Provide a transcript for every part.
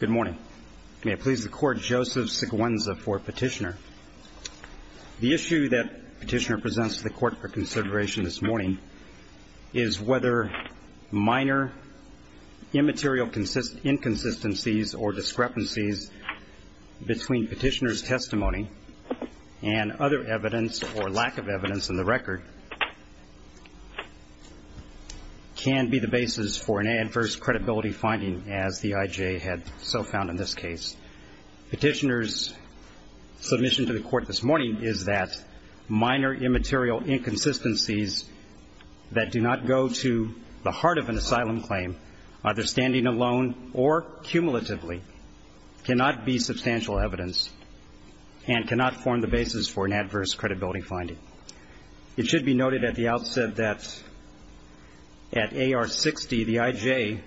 Good morning. May it please the Court, Joseph Seguenza for Petitioner. The issue that Petitioner presents to the Court for consideration this morning is whether minor immaterial inconsistencies or discrepancies between Petitioner's testimony and other evidence or lack of evidence in the record can be the basis for an adverse credibility finding, as the IJA had so found in this case. Petitioner's submission to the Court this morning is that minor immaterial inconsistencies that do not go to the heart of an asylum claim, either standing alone or cumulatively, cannot be substantial evidence and cannot form the basis for an adverse credibility finding. It should be noted at the outset that at AR 60, the IJA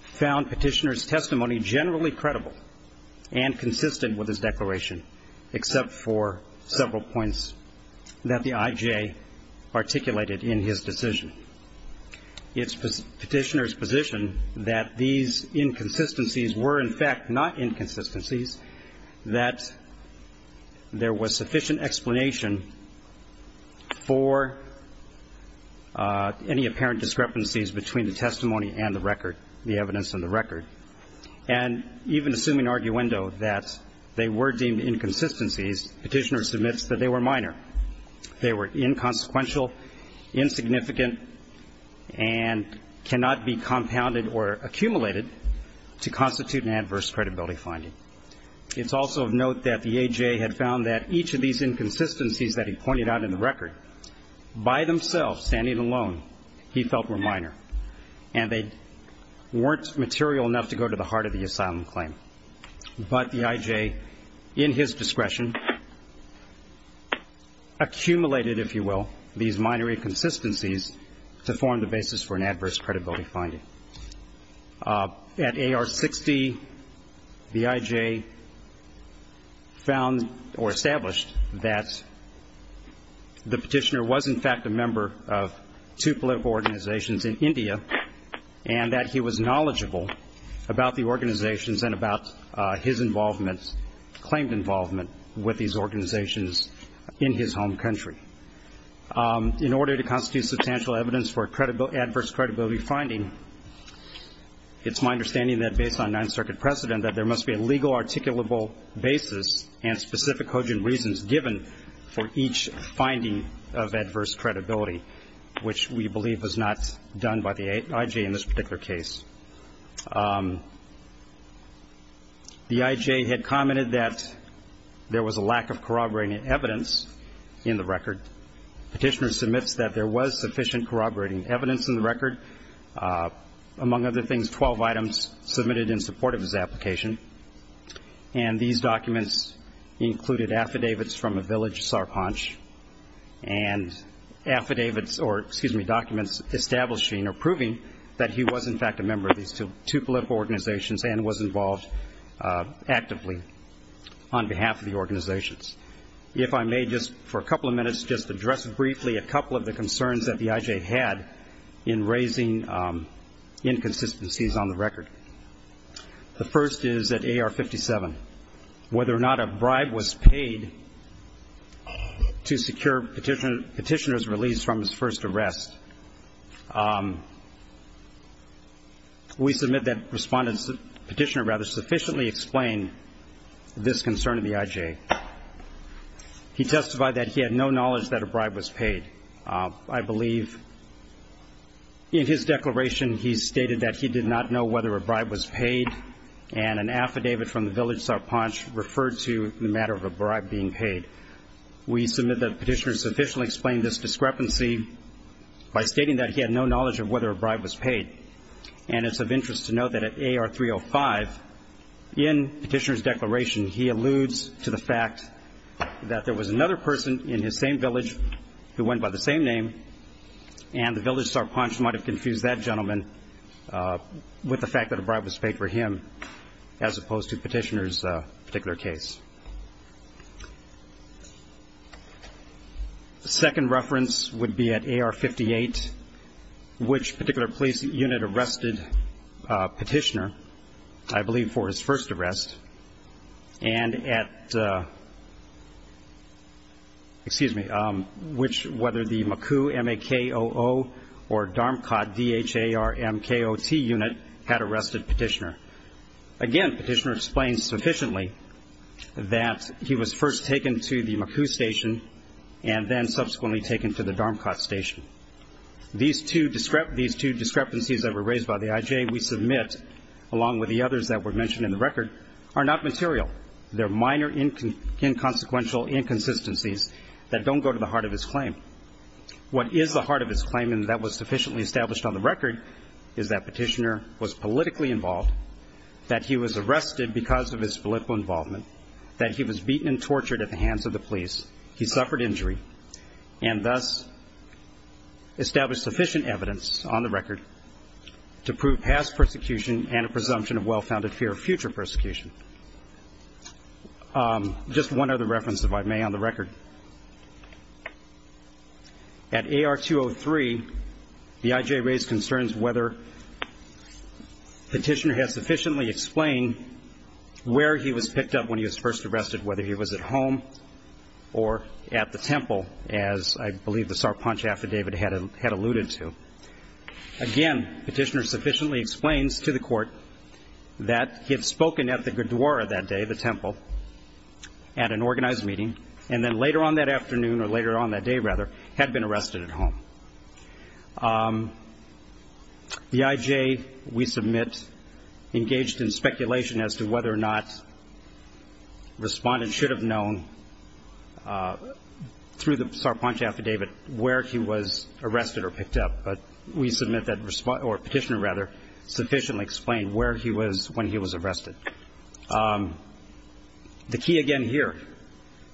found Petitioner's testimony generally credible and consistent with his declaration, except for several points that the IJA articulated in his decision. It's Petitioner's position that these inconsistencies were, in fact, not inconsistencies, that there was sufficient explanation for any apparent discrepancies between the testimony and the record, the evidence and the record. And even assuming arguendo that they were deemed inconsistencies, Petitioner submits that they were minor. They were inconsequential, insignificant, and cannot be compounded or accumulated to constitute an adverse credibility finding. It's also of note that the IJA had found that each of these inconsistencies that he pointed out in the record, by themselves, standing alone, he felt were minor, and they weren't material enough to go to the heart of the asylum claim. But the IJA, in his discretion, accumulated, if you will, these minor inconsistencies to form the basis for an adverse credibility finding. At AR 60, the IJA found or established that the Petitioner was, in fact, a member of two political organizations in India, and that he was knowledgeable about the organizations and about his involvement, claimed involvement, with these organizations in his home country. In order to constitute substantial evidence for adverse credibility finding, it's my understanding that, based on Ninth Circuit precedent, that there must be a legal articulable basis and specific cogent reasons given for each finding of adverse credibility, which we believe was not done by the IJA in this particular case. The IJA had commented that there was a lack of corroborating evidence in the record. The Petitioner submits that there was sufficient corroborating evidence in the record. Among other things, 12 items submitted in support of his application, and these documents included affidavits from a village, Sarpanch, and affidavits or, excuse me, documents establishing or proving that he was, in fact, a member of these two political organizations and was involved actively on behalf of the organizations. If I may just, for a couple of minutes, just address briefly a couple of the concerns that the IJA had in raising inconsistencies on the record. The first is at AR 57. Whether or not a bribe was paid to secure Petitioner's release from his first arrest, the Petitioner rather sufficiently explained this concern to the IJA. He testified that he had no knowledge that a bribe was paid. I believe in his declaration he stated that he did not know whether a bribe was paid, and an affidavit from the village, Sarpanch, referred to the matter of a bribe being paid. We submit that Petitioner sufficiently explained this discrepancy by stating that he had no knowledge of whether a bribe was paid, and it's of interest to note that at AR 305, in Petitioner's declaration, he alludes to the fact that there was another person in his same village who went by the same name, and the village, Sarpanch, might have confused that gentleman with the fact that a bribe was paid for him, as opposed to Petitioner's particular case. The second reference would be at AR 58, which particular police unit arrested Petitioner, I believe for his first arrest, and at, excuse me, which, whether the Makoo, M-A-K-O-O, or Dharmkot, D-H-A-R-M-K-O-T, unit had arrested Petitioner. Again, Petitioner explains sufficiently that he was first taken to the Makoo station, and then subsequently taken to the Dharmkot station. These two discrepancies that were raised by the IJ we submit, along with the others that were mentioned in the record, are not material. They're minor inconsequential inconsistencies that don't go to the heart of his claim. What is the heart of his claim, and that was sufficiently established on the record, is that Petitioner was politically involved, that he was arrested because of his political involvement, that he was beaten and tortured at the hands of the police, he suffered injury, and thus established sufficient evidence on the record to prove past persecution and a presumption of well-founded fear of future persecution. Just one other reference, if I may, on the record. At AR 203, the IJ raised concerns whether Petitioner has sufficiently explained where he was picked up when he was first arrested, whether he was at home or at the temple, as I believe the Sarpanch affidavit had alluded to. Again, Petitioner sufficiently explains to the Court that he had spoken at the Gurdwara that day, the temple, at an organized meeting, and then later on that afternoon, or later on that day, rather, had been arrested at home. The IJ, we submit, engaged in speculation as to whether or not Respondent should have known through the Sarpanch affidavit where he was arrested or picked up, but we submit that Respondent, or Petitioner, rather, sufficiently explained where he was when he was arrested. The key, again, here,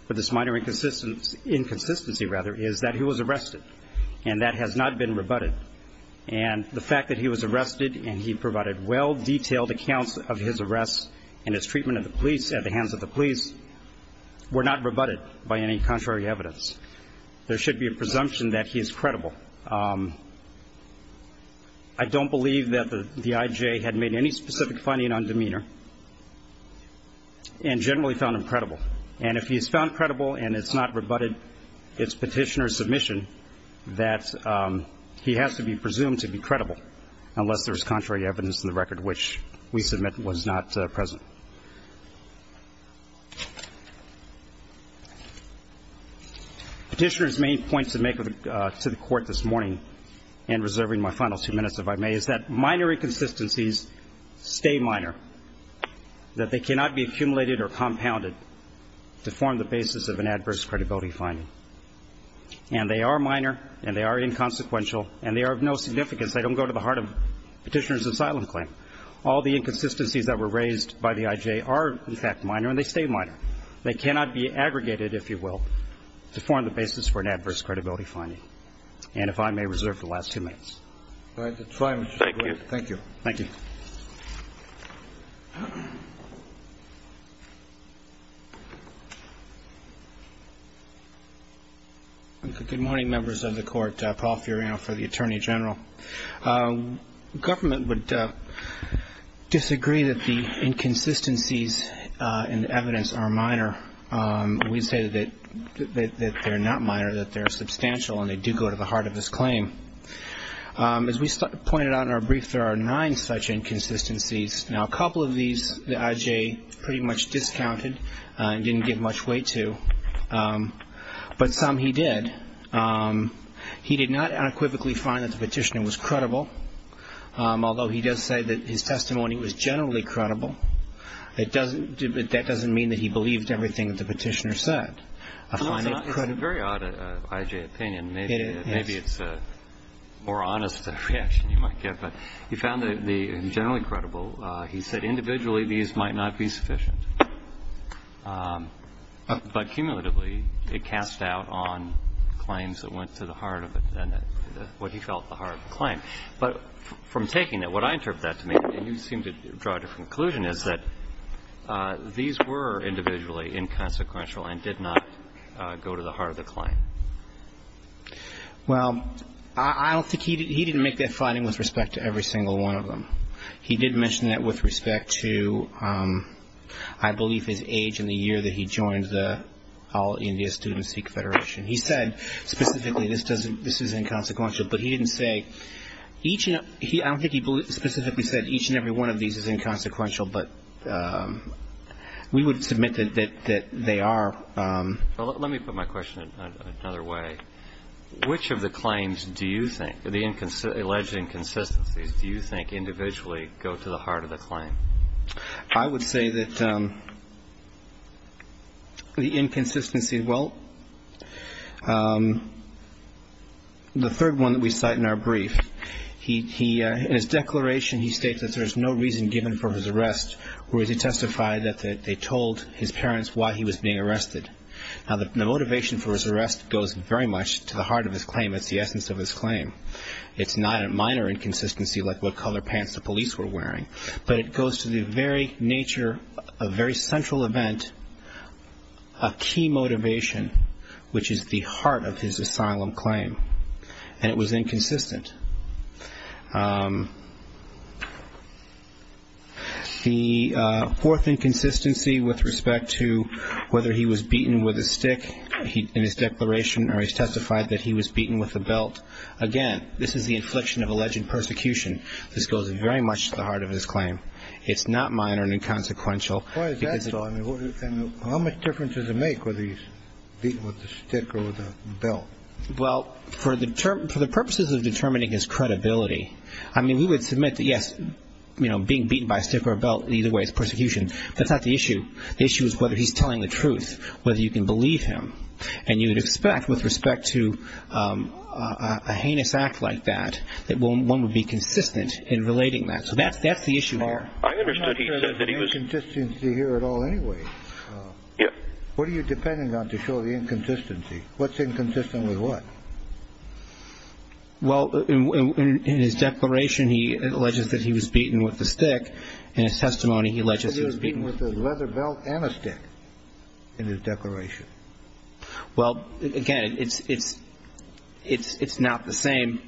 for this minor inconsistency, rather, is that he was arrested, and that has not been rebutted. And the fact that he was arrested and he provided well-detailed accounts of his arrests and his treatment of the police at the hands of the police were not rebutted by any contrary evidence. There should be a presumption that he is credible. I don't believe that the IJ had made any specific finding on demeanor and generally found him credible. And if he is found credible and it's not rebutted, it's Petitioner's submission that he has to be presumed to be credible, unless there is contrary evidence in the record which we submit was not present. Petitioner's main points to make to the Court this morning, and reserving my final two minutes if I may, is that minor inconsistencies stay minor, that they cannot be accumulated or compounded to form the basis of an adverse credibility finding. And they are minor, and they are inconsequential, and they are of no significance. They don't go to the heart of Petitioner's asylum claim. All the inconsistencies that were raised by the IJ are, in fact, minor, and they stay minor. They cannot be aggregated, if you will, to form the basis for an adverse credibility finding. And if I may reserve the last two minutes. Thank you. Thank you. Good morning, members of the Court. Paul Furiano for the Attorney General. Government would disagree that the inconsistencies in the evidence are minor. We say that they are not minor, that they are substantial, and they do go to the heart of his claim. As we pointed out in our brief, there are nine such inconsistencies. Now, a couple of these, the IJ pretty much discounted and didn't give much weight to. But some he did. He did not unequivocally find that the Petitioner was credible, although he does say that his testimony was generally credible. That doesn't mean that he believed everything that the Petitioner said. It's a very odd IJ opinion. Maybe it's a more honest reaction you might give. But he found that the generally credible, he said individually these might not be sufficient. But cumulatively, it cast doubt on claims that went to the heart of it and what he felt the heart of the claim. But from taking it, what I interpret that to mean, and you seem to draw a different conclusion, is that these were individually inconsequential and did not go to the heart of the claim. Well, I don't think he did. He didn't make that finding with respect to every single one of them. He did mention that with respect to, I believe, his age and the year that he joined the All India Student Seek Federation. He said specifically this is inconsequential. But he didn't say each, I don't think he specifically said each and every one of these is inconsequential. But we would submit that they are. Well, let me put my question another way. Which of the claims do you think, the alleged inconsistencies, do you think individually go to the heart of the claim? I would say that the inconsistency, well, the third one that we cite in our brief, in his declaration he states that there is no reason given for his arrest, whereas he testified that they told his parents why he was being arrested. Now, the motivation for his arrest goes very much to the heart of his claim. It's the essence of his claim. It's not a minor inconsistency like what color pants the police were wearing. But it goes to the very nature, a very central event, a key motivation, which is the heart of his asylum claim. And it was inconsistent. The fourth inconsistency with respect to whether he was beaten with a stick in his declaration, or he testified that he was beaten with a belt. Again, this is the infliction of alleged persecution. This goes very much to the heart of his claim. It's not minor and inconsequential. Why is that so? I mean, how much difference does it make whether he's beaten with a stick or with a belt? Well, for the purposes of determining his credibility, I mean, we would submit that, yes, you know, being beaten by a stick or a belt, either way it's persecution. That's not the issue. The issue is whether he's telling the truth, whether you can believe him. And you would expect, with respect to a heinous act like that, that one would be consistent in relating that. So that's the issue here. I understood he said that he was... There's no inconsistency here at all anyway. Yeah. What are you depending on to show the inconsistency? What's inconsistent with what? Well, in his declaration, he alleges that he was beaten with a stick. In his testimony, he alleges he was beaten with a leather belt and a stick in his declaration. Well, again, it's not the same.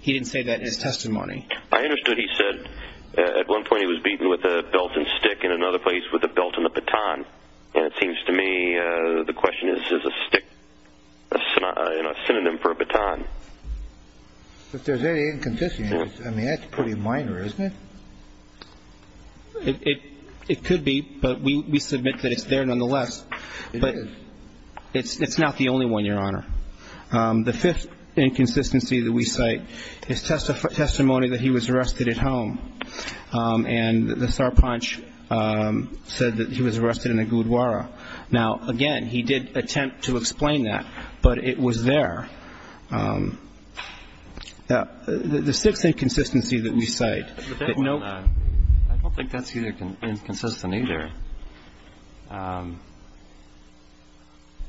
He didn't say that in his testimony. I understood he said at one point he was beaten with a belt and stick, and another place with a belt and a baton. And it seems to me the question is, is a stick a synonym for a baton? If there's any inconsistency, I mean, that's pretty minor, isn't it? It could be, but we submit that it's there nonetheless. It is. But it's not the only one, Your Honor. The fifth inconsistency that we cite is testimony that he was arrested at home. And the sarpanch said that he was arrested in a gurdwara. Now, again, he did attempt to explain that, but it was there. The sixth inconsistency that we cite. I don't think that's inconsistent either.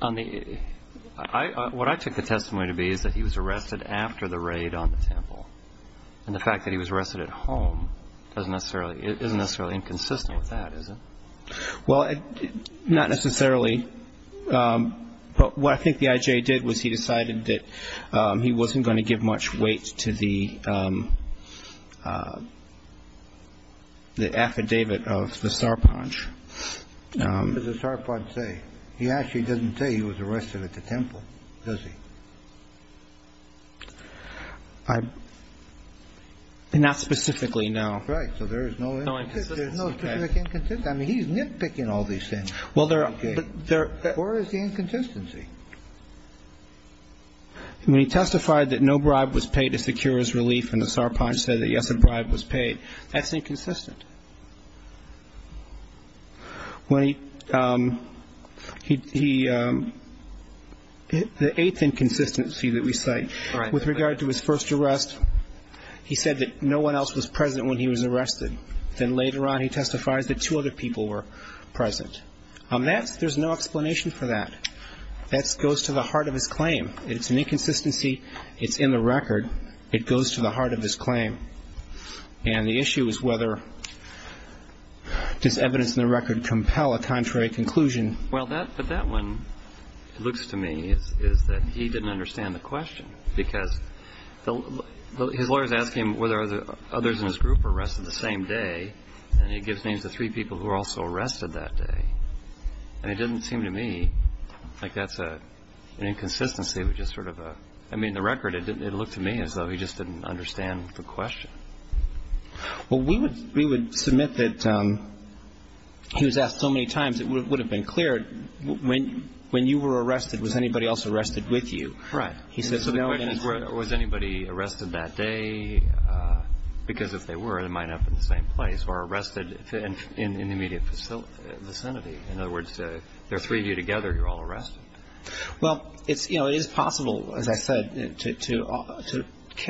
What I took the testimony to be is that he was arrested after the raid on the temple. And the fact that he was arrested at home doesn't necessarily – isn't necessarily inconsistent with that, is it? Well, not necessarily. But what I think the IJ did was he decided that he wasn't going to give much weight to the affidavit of the sarpanch. What does the sarpanch say? He actually doesn't say he was arrested at the temple, does he? Not specifically, no. Right. So there is no – No inconsistency. There's no specific inconsistency. I mean, he's nitpicking all these things. Well, there – Or is the inconsistency? When he testified that no bribe was paid to secure his relief and the sarpanch said that, yes, a bribe was paid, that's inconsistent. When he – he – the eighth inconsistency that we cite with regard to his first arrest, he said that no one else was present when he was arrested. Then later on, he testifies that two other people were present. That's – there's no explanation for that. That goes to the heart of his claim. It's an inconsistency. It's in the record. It goes to the heart of his claim. And the issue is whether – does evidence in the record compel a contrary conclusion? Well, that – but that one, it looks to me, is that he didn't understand the question because his lawyers ask him whether others in his group were arrested the same day, and he gives names of three people who were also arrested that day. And it doesn't seem to me like that's an inconsistency, which is sort of a – I mean, the record, it looked to me as though he just didn't understand the question. Well, we would – we would submit that – he was asked so many times, it would have been clear, when you were arrested, was anybody else arrested with you? Right. So the question is, was anybody arrested that day? Because if they were, they might not have been in the same place, or arrested in the immediate vicinity. In other words, there are three of you together, you're all arrested. Well, it's – you know, it is possible, as I said, to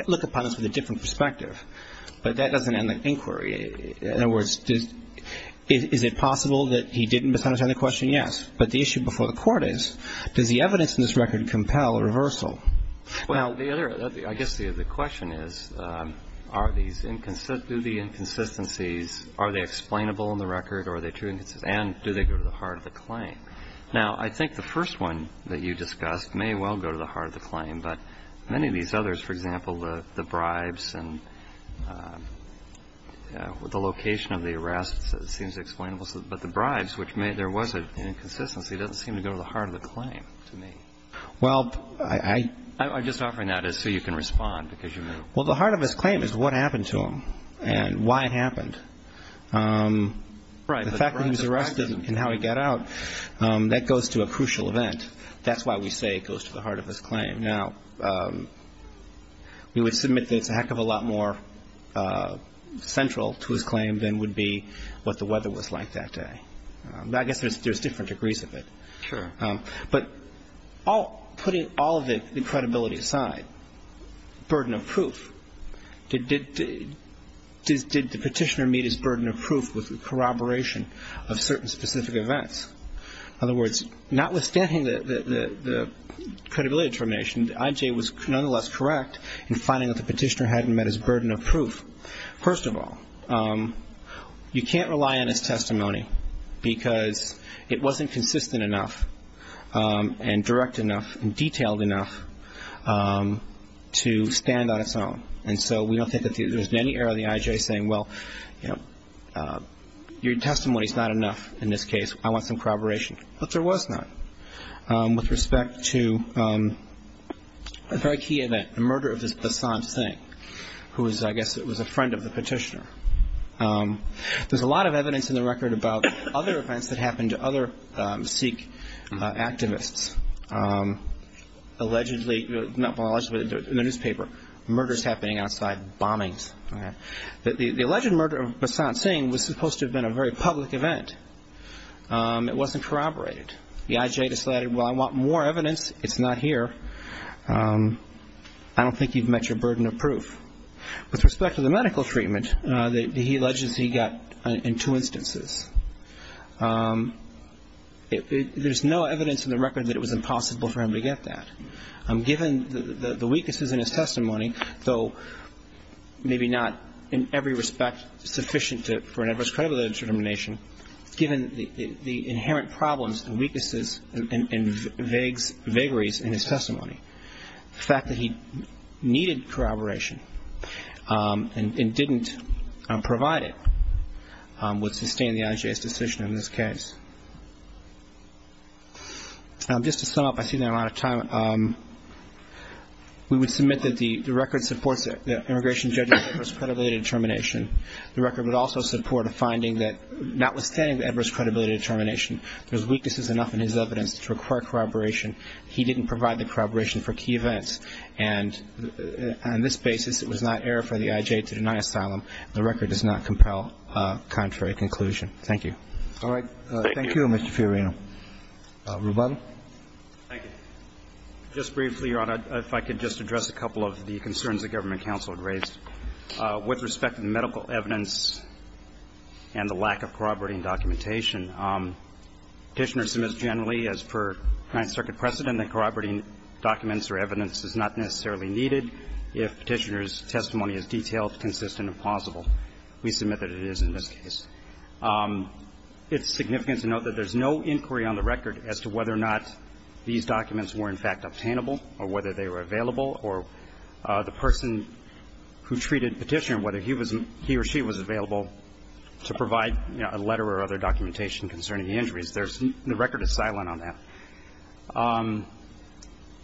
look upon this with a different perspective. But that doesn't end the inquiry. In other words, is it possible that he didn't understand the question? Yes. But the issue before the court is, does the evidence in this record compel a reversal? Well, the other – I guess the question is, are these – do the inconsistencies – are they explainable in the record, or are they true inconsistencies? And do they go to the heart of the claim? Now, I think the first one that you discussed may well go to the heart of the claim, but many of these others, for example, the bribes and the location of the arrests, it seems explainable. But the bribes, which may – there was an inconsistency, doesn't seem to go to the heart of the claim to me. Well, I – I'm just offering that as so you can respond, because you may – Well, the heart of his claim is what happened to him, and why it happened. Right. The fact that he was arrested and how he got out, that goes to a crucial event. That's why we say it goes to the heart of his claim. Now, we would submit that it's a heck of a lot more central to his claim than would be what the weather was like that day. I guess there's different degrees of it. Sure. But putting all of the credibility aside, burden of proof, did the petitioner meet his burden of proof with corroboration of certain specific events? In other words, notwithstanding the credibility determination, the I.J. was nonetheless correct in finding that the petitioner hadn't met his burden of proof. First of all, you can't rely on his testimony because it wasn't consistent enough and direct enough and detailed enough to stand on its own. And so we don't think that there's been any error in the I.J. saying, well, you know, your testimony's not enough in this case. I want some corroboration. But there was not with respect to a very key event, the murder of Basant Singh, who was, I guess, a friend of the petitioner. There's a lot of evidence in the record about other events that happened to other Sikh activists. Allegedly, not by law, but in the newspaper, murders happening outside bombings. The alleged murder of Basant Singh was supposed to have been a very public event. It wasn't corroborated. The I.J. decided, well, I want more evidence. It's not here. I don't think you've met your burden of proof. With respect to the medical treatment that he alleges he got in two instances, there's no evidence in the record that it was impossible for him to get that. Given the weaknesses in his testimony, though maybe not in every respect sufficient for an adverse credibility determination, given the inherent problems and weaknesses and vagaries in his testimony, the fact that he needed corroboration and didn't provide it would sustain the I.J.'s decision in this case. Just to sum up, I see that I'm out of time. We would submit that the record supports The record would also support a finding that notwithstanding the adverse credibility determination, there's weaknesses enough in his evidence to require corroboration. He didn't provide the corroboration for key events. And on this basis, it was not air for the I.J. to deny asylum. The record does not compel a contrary conclusion. Thank you. Thank you, Mr. Fiorino. Ruben? if I could just address a couple of the concerns the government counsel had raised. With respect to the medical evidence and the lack of corroborating documentation, Petitioner submits generally, as per Ninth Circuit precedent, that corroborating documents or evidence is not necessarily needed if Petitioner's testimony is detailed, consistent, and plausible. We submit that it is in this case. It's significant to note that there's no inquiry on the record as to whether or not these documents were, in fact, obtainable or whether they were available or the person who treated Petitioner, whether he or she was available to provide a letter or other documentation concerning the injuries. The record is silent on that.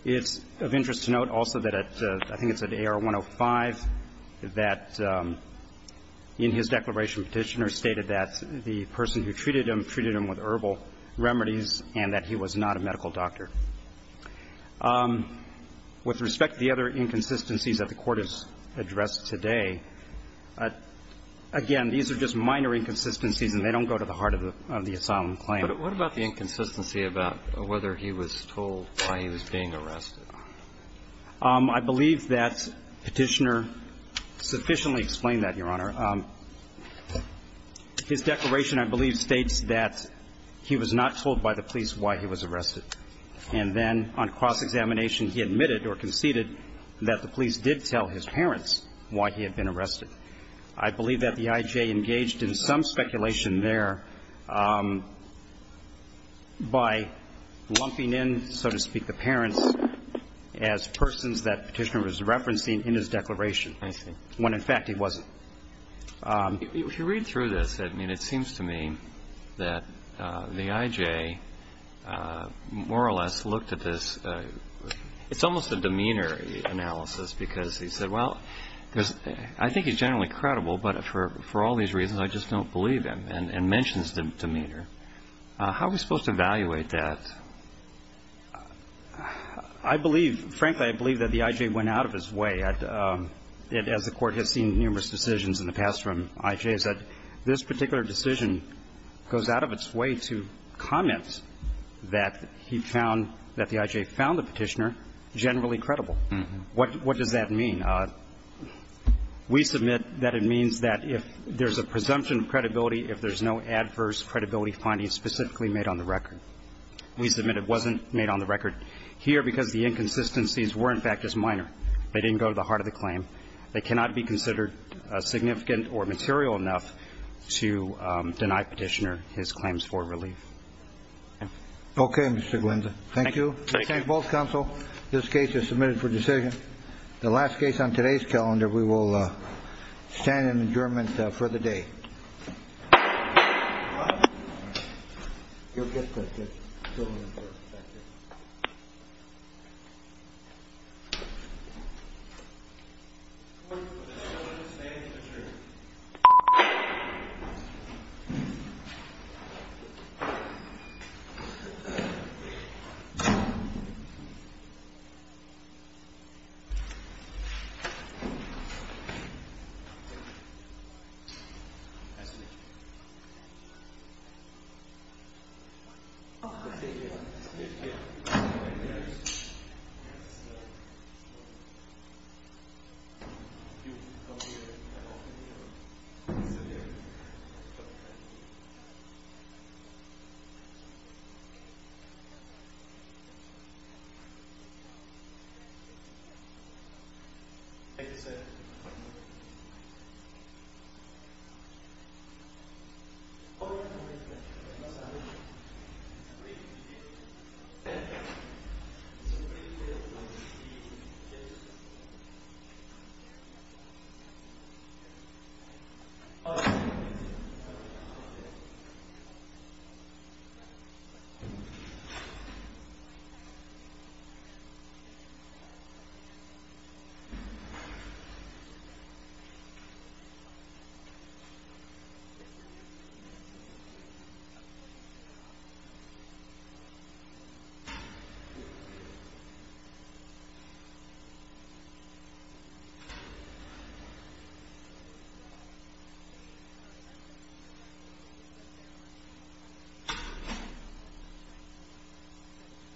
It's of interest to note also that, I think it's at AR 105, that in his declaration, Petitioner stated that the person who treated him treated him with herbal remedies and that he was not a medical doctor. With respect to the other inconsistencies that the Court has addressed today, again, these are just minor inconsistencies and they don't go to the heart of the asylum claim. But what about the inconsistency about whether he was told why he was being arrested? I believe that Petitioner sufficiently explained that, Your Honor. His declaration, I believe, states that he was not told by the police why he was arrested. And then on cross-examination, he admitted or conceded that the police did tell his parents why he had been arrested. I believe that the I.J. engaged in some speculation there by lumping in, so to speak, the parents as persons that Petitioner was referencing in his declaration, when in fact he wasn't. If you read through this, it seems to me that the I.J. more or less looked at this... It's almost a demeanor analysis because he said, well, I think he's generally credible, but for all these reasons, I just don't believe him, and mentions demeanor. How are we supposed to evaluate that? I believe, frankly, I believe that the I.J. went out of his way. As the Court has seen numerous decisions in the past from I.J.s, this particular decision goes out of its way to comment that he found that the I.J. found the Petitioner generally credible. What does that mean? We submit that it means that if there's a presumption of credibility if there's no adverse credibility finding specifically made on the record. We submit it wasn't made on the record here because the inconsistencies were in fact just minor. They didn't go to the heart of the claim. They cannot be considered significant or material enough to deny Petitioner his claims for relief. Okay, Mr. Glenza. Thank you. This case is submitted for decision. The last case on today's calendar we will stand in adjournment for the day. Beep. Thank you, sir. Thank you, sir. All right. All right. Beep. Beep. Beep.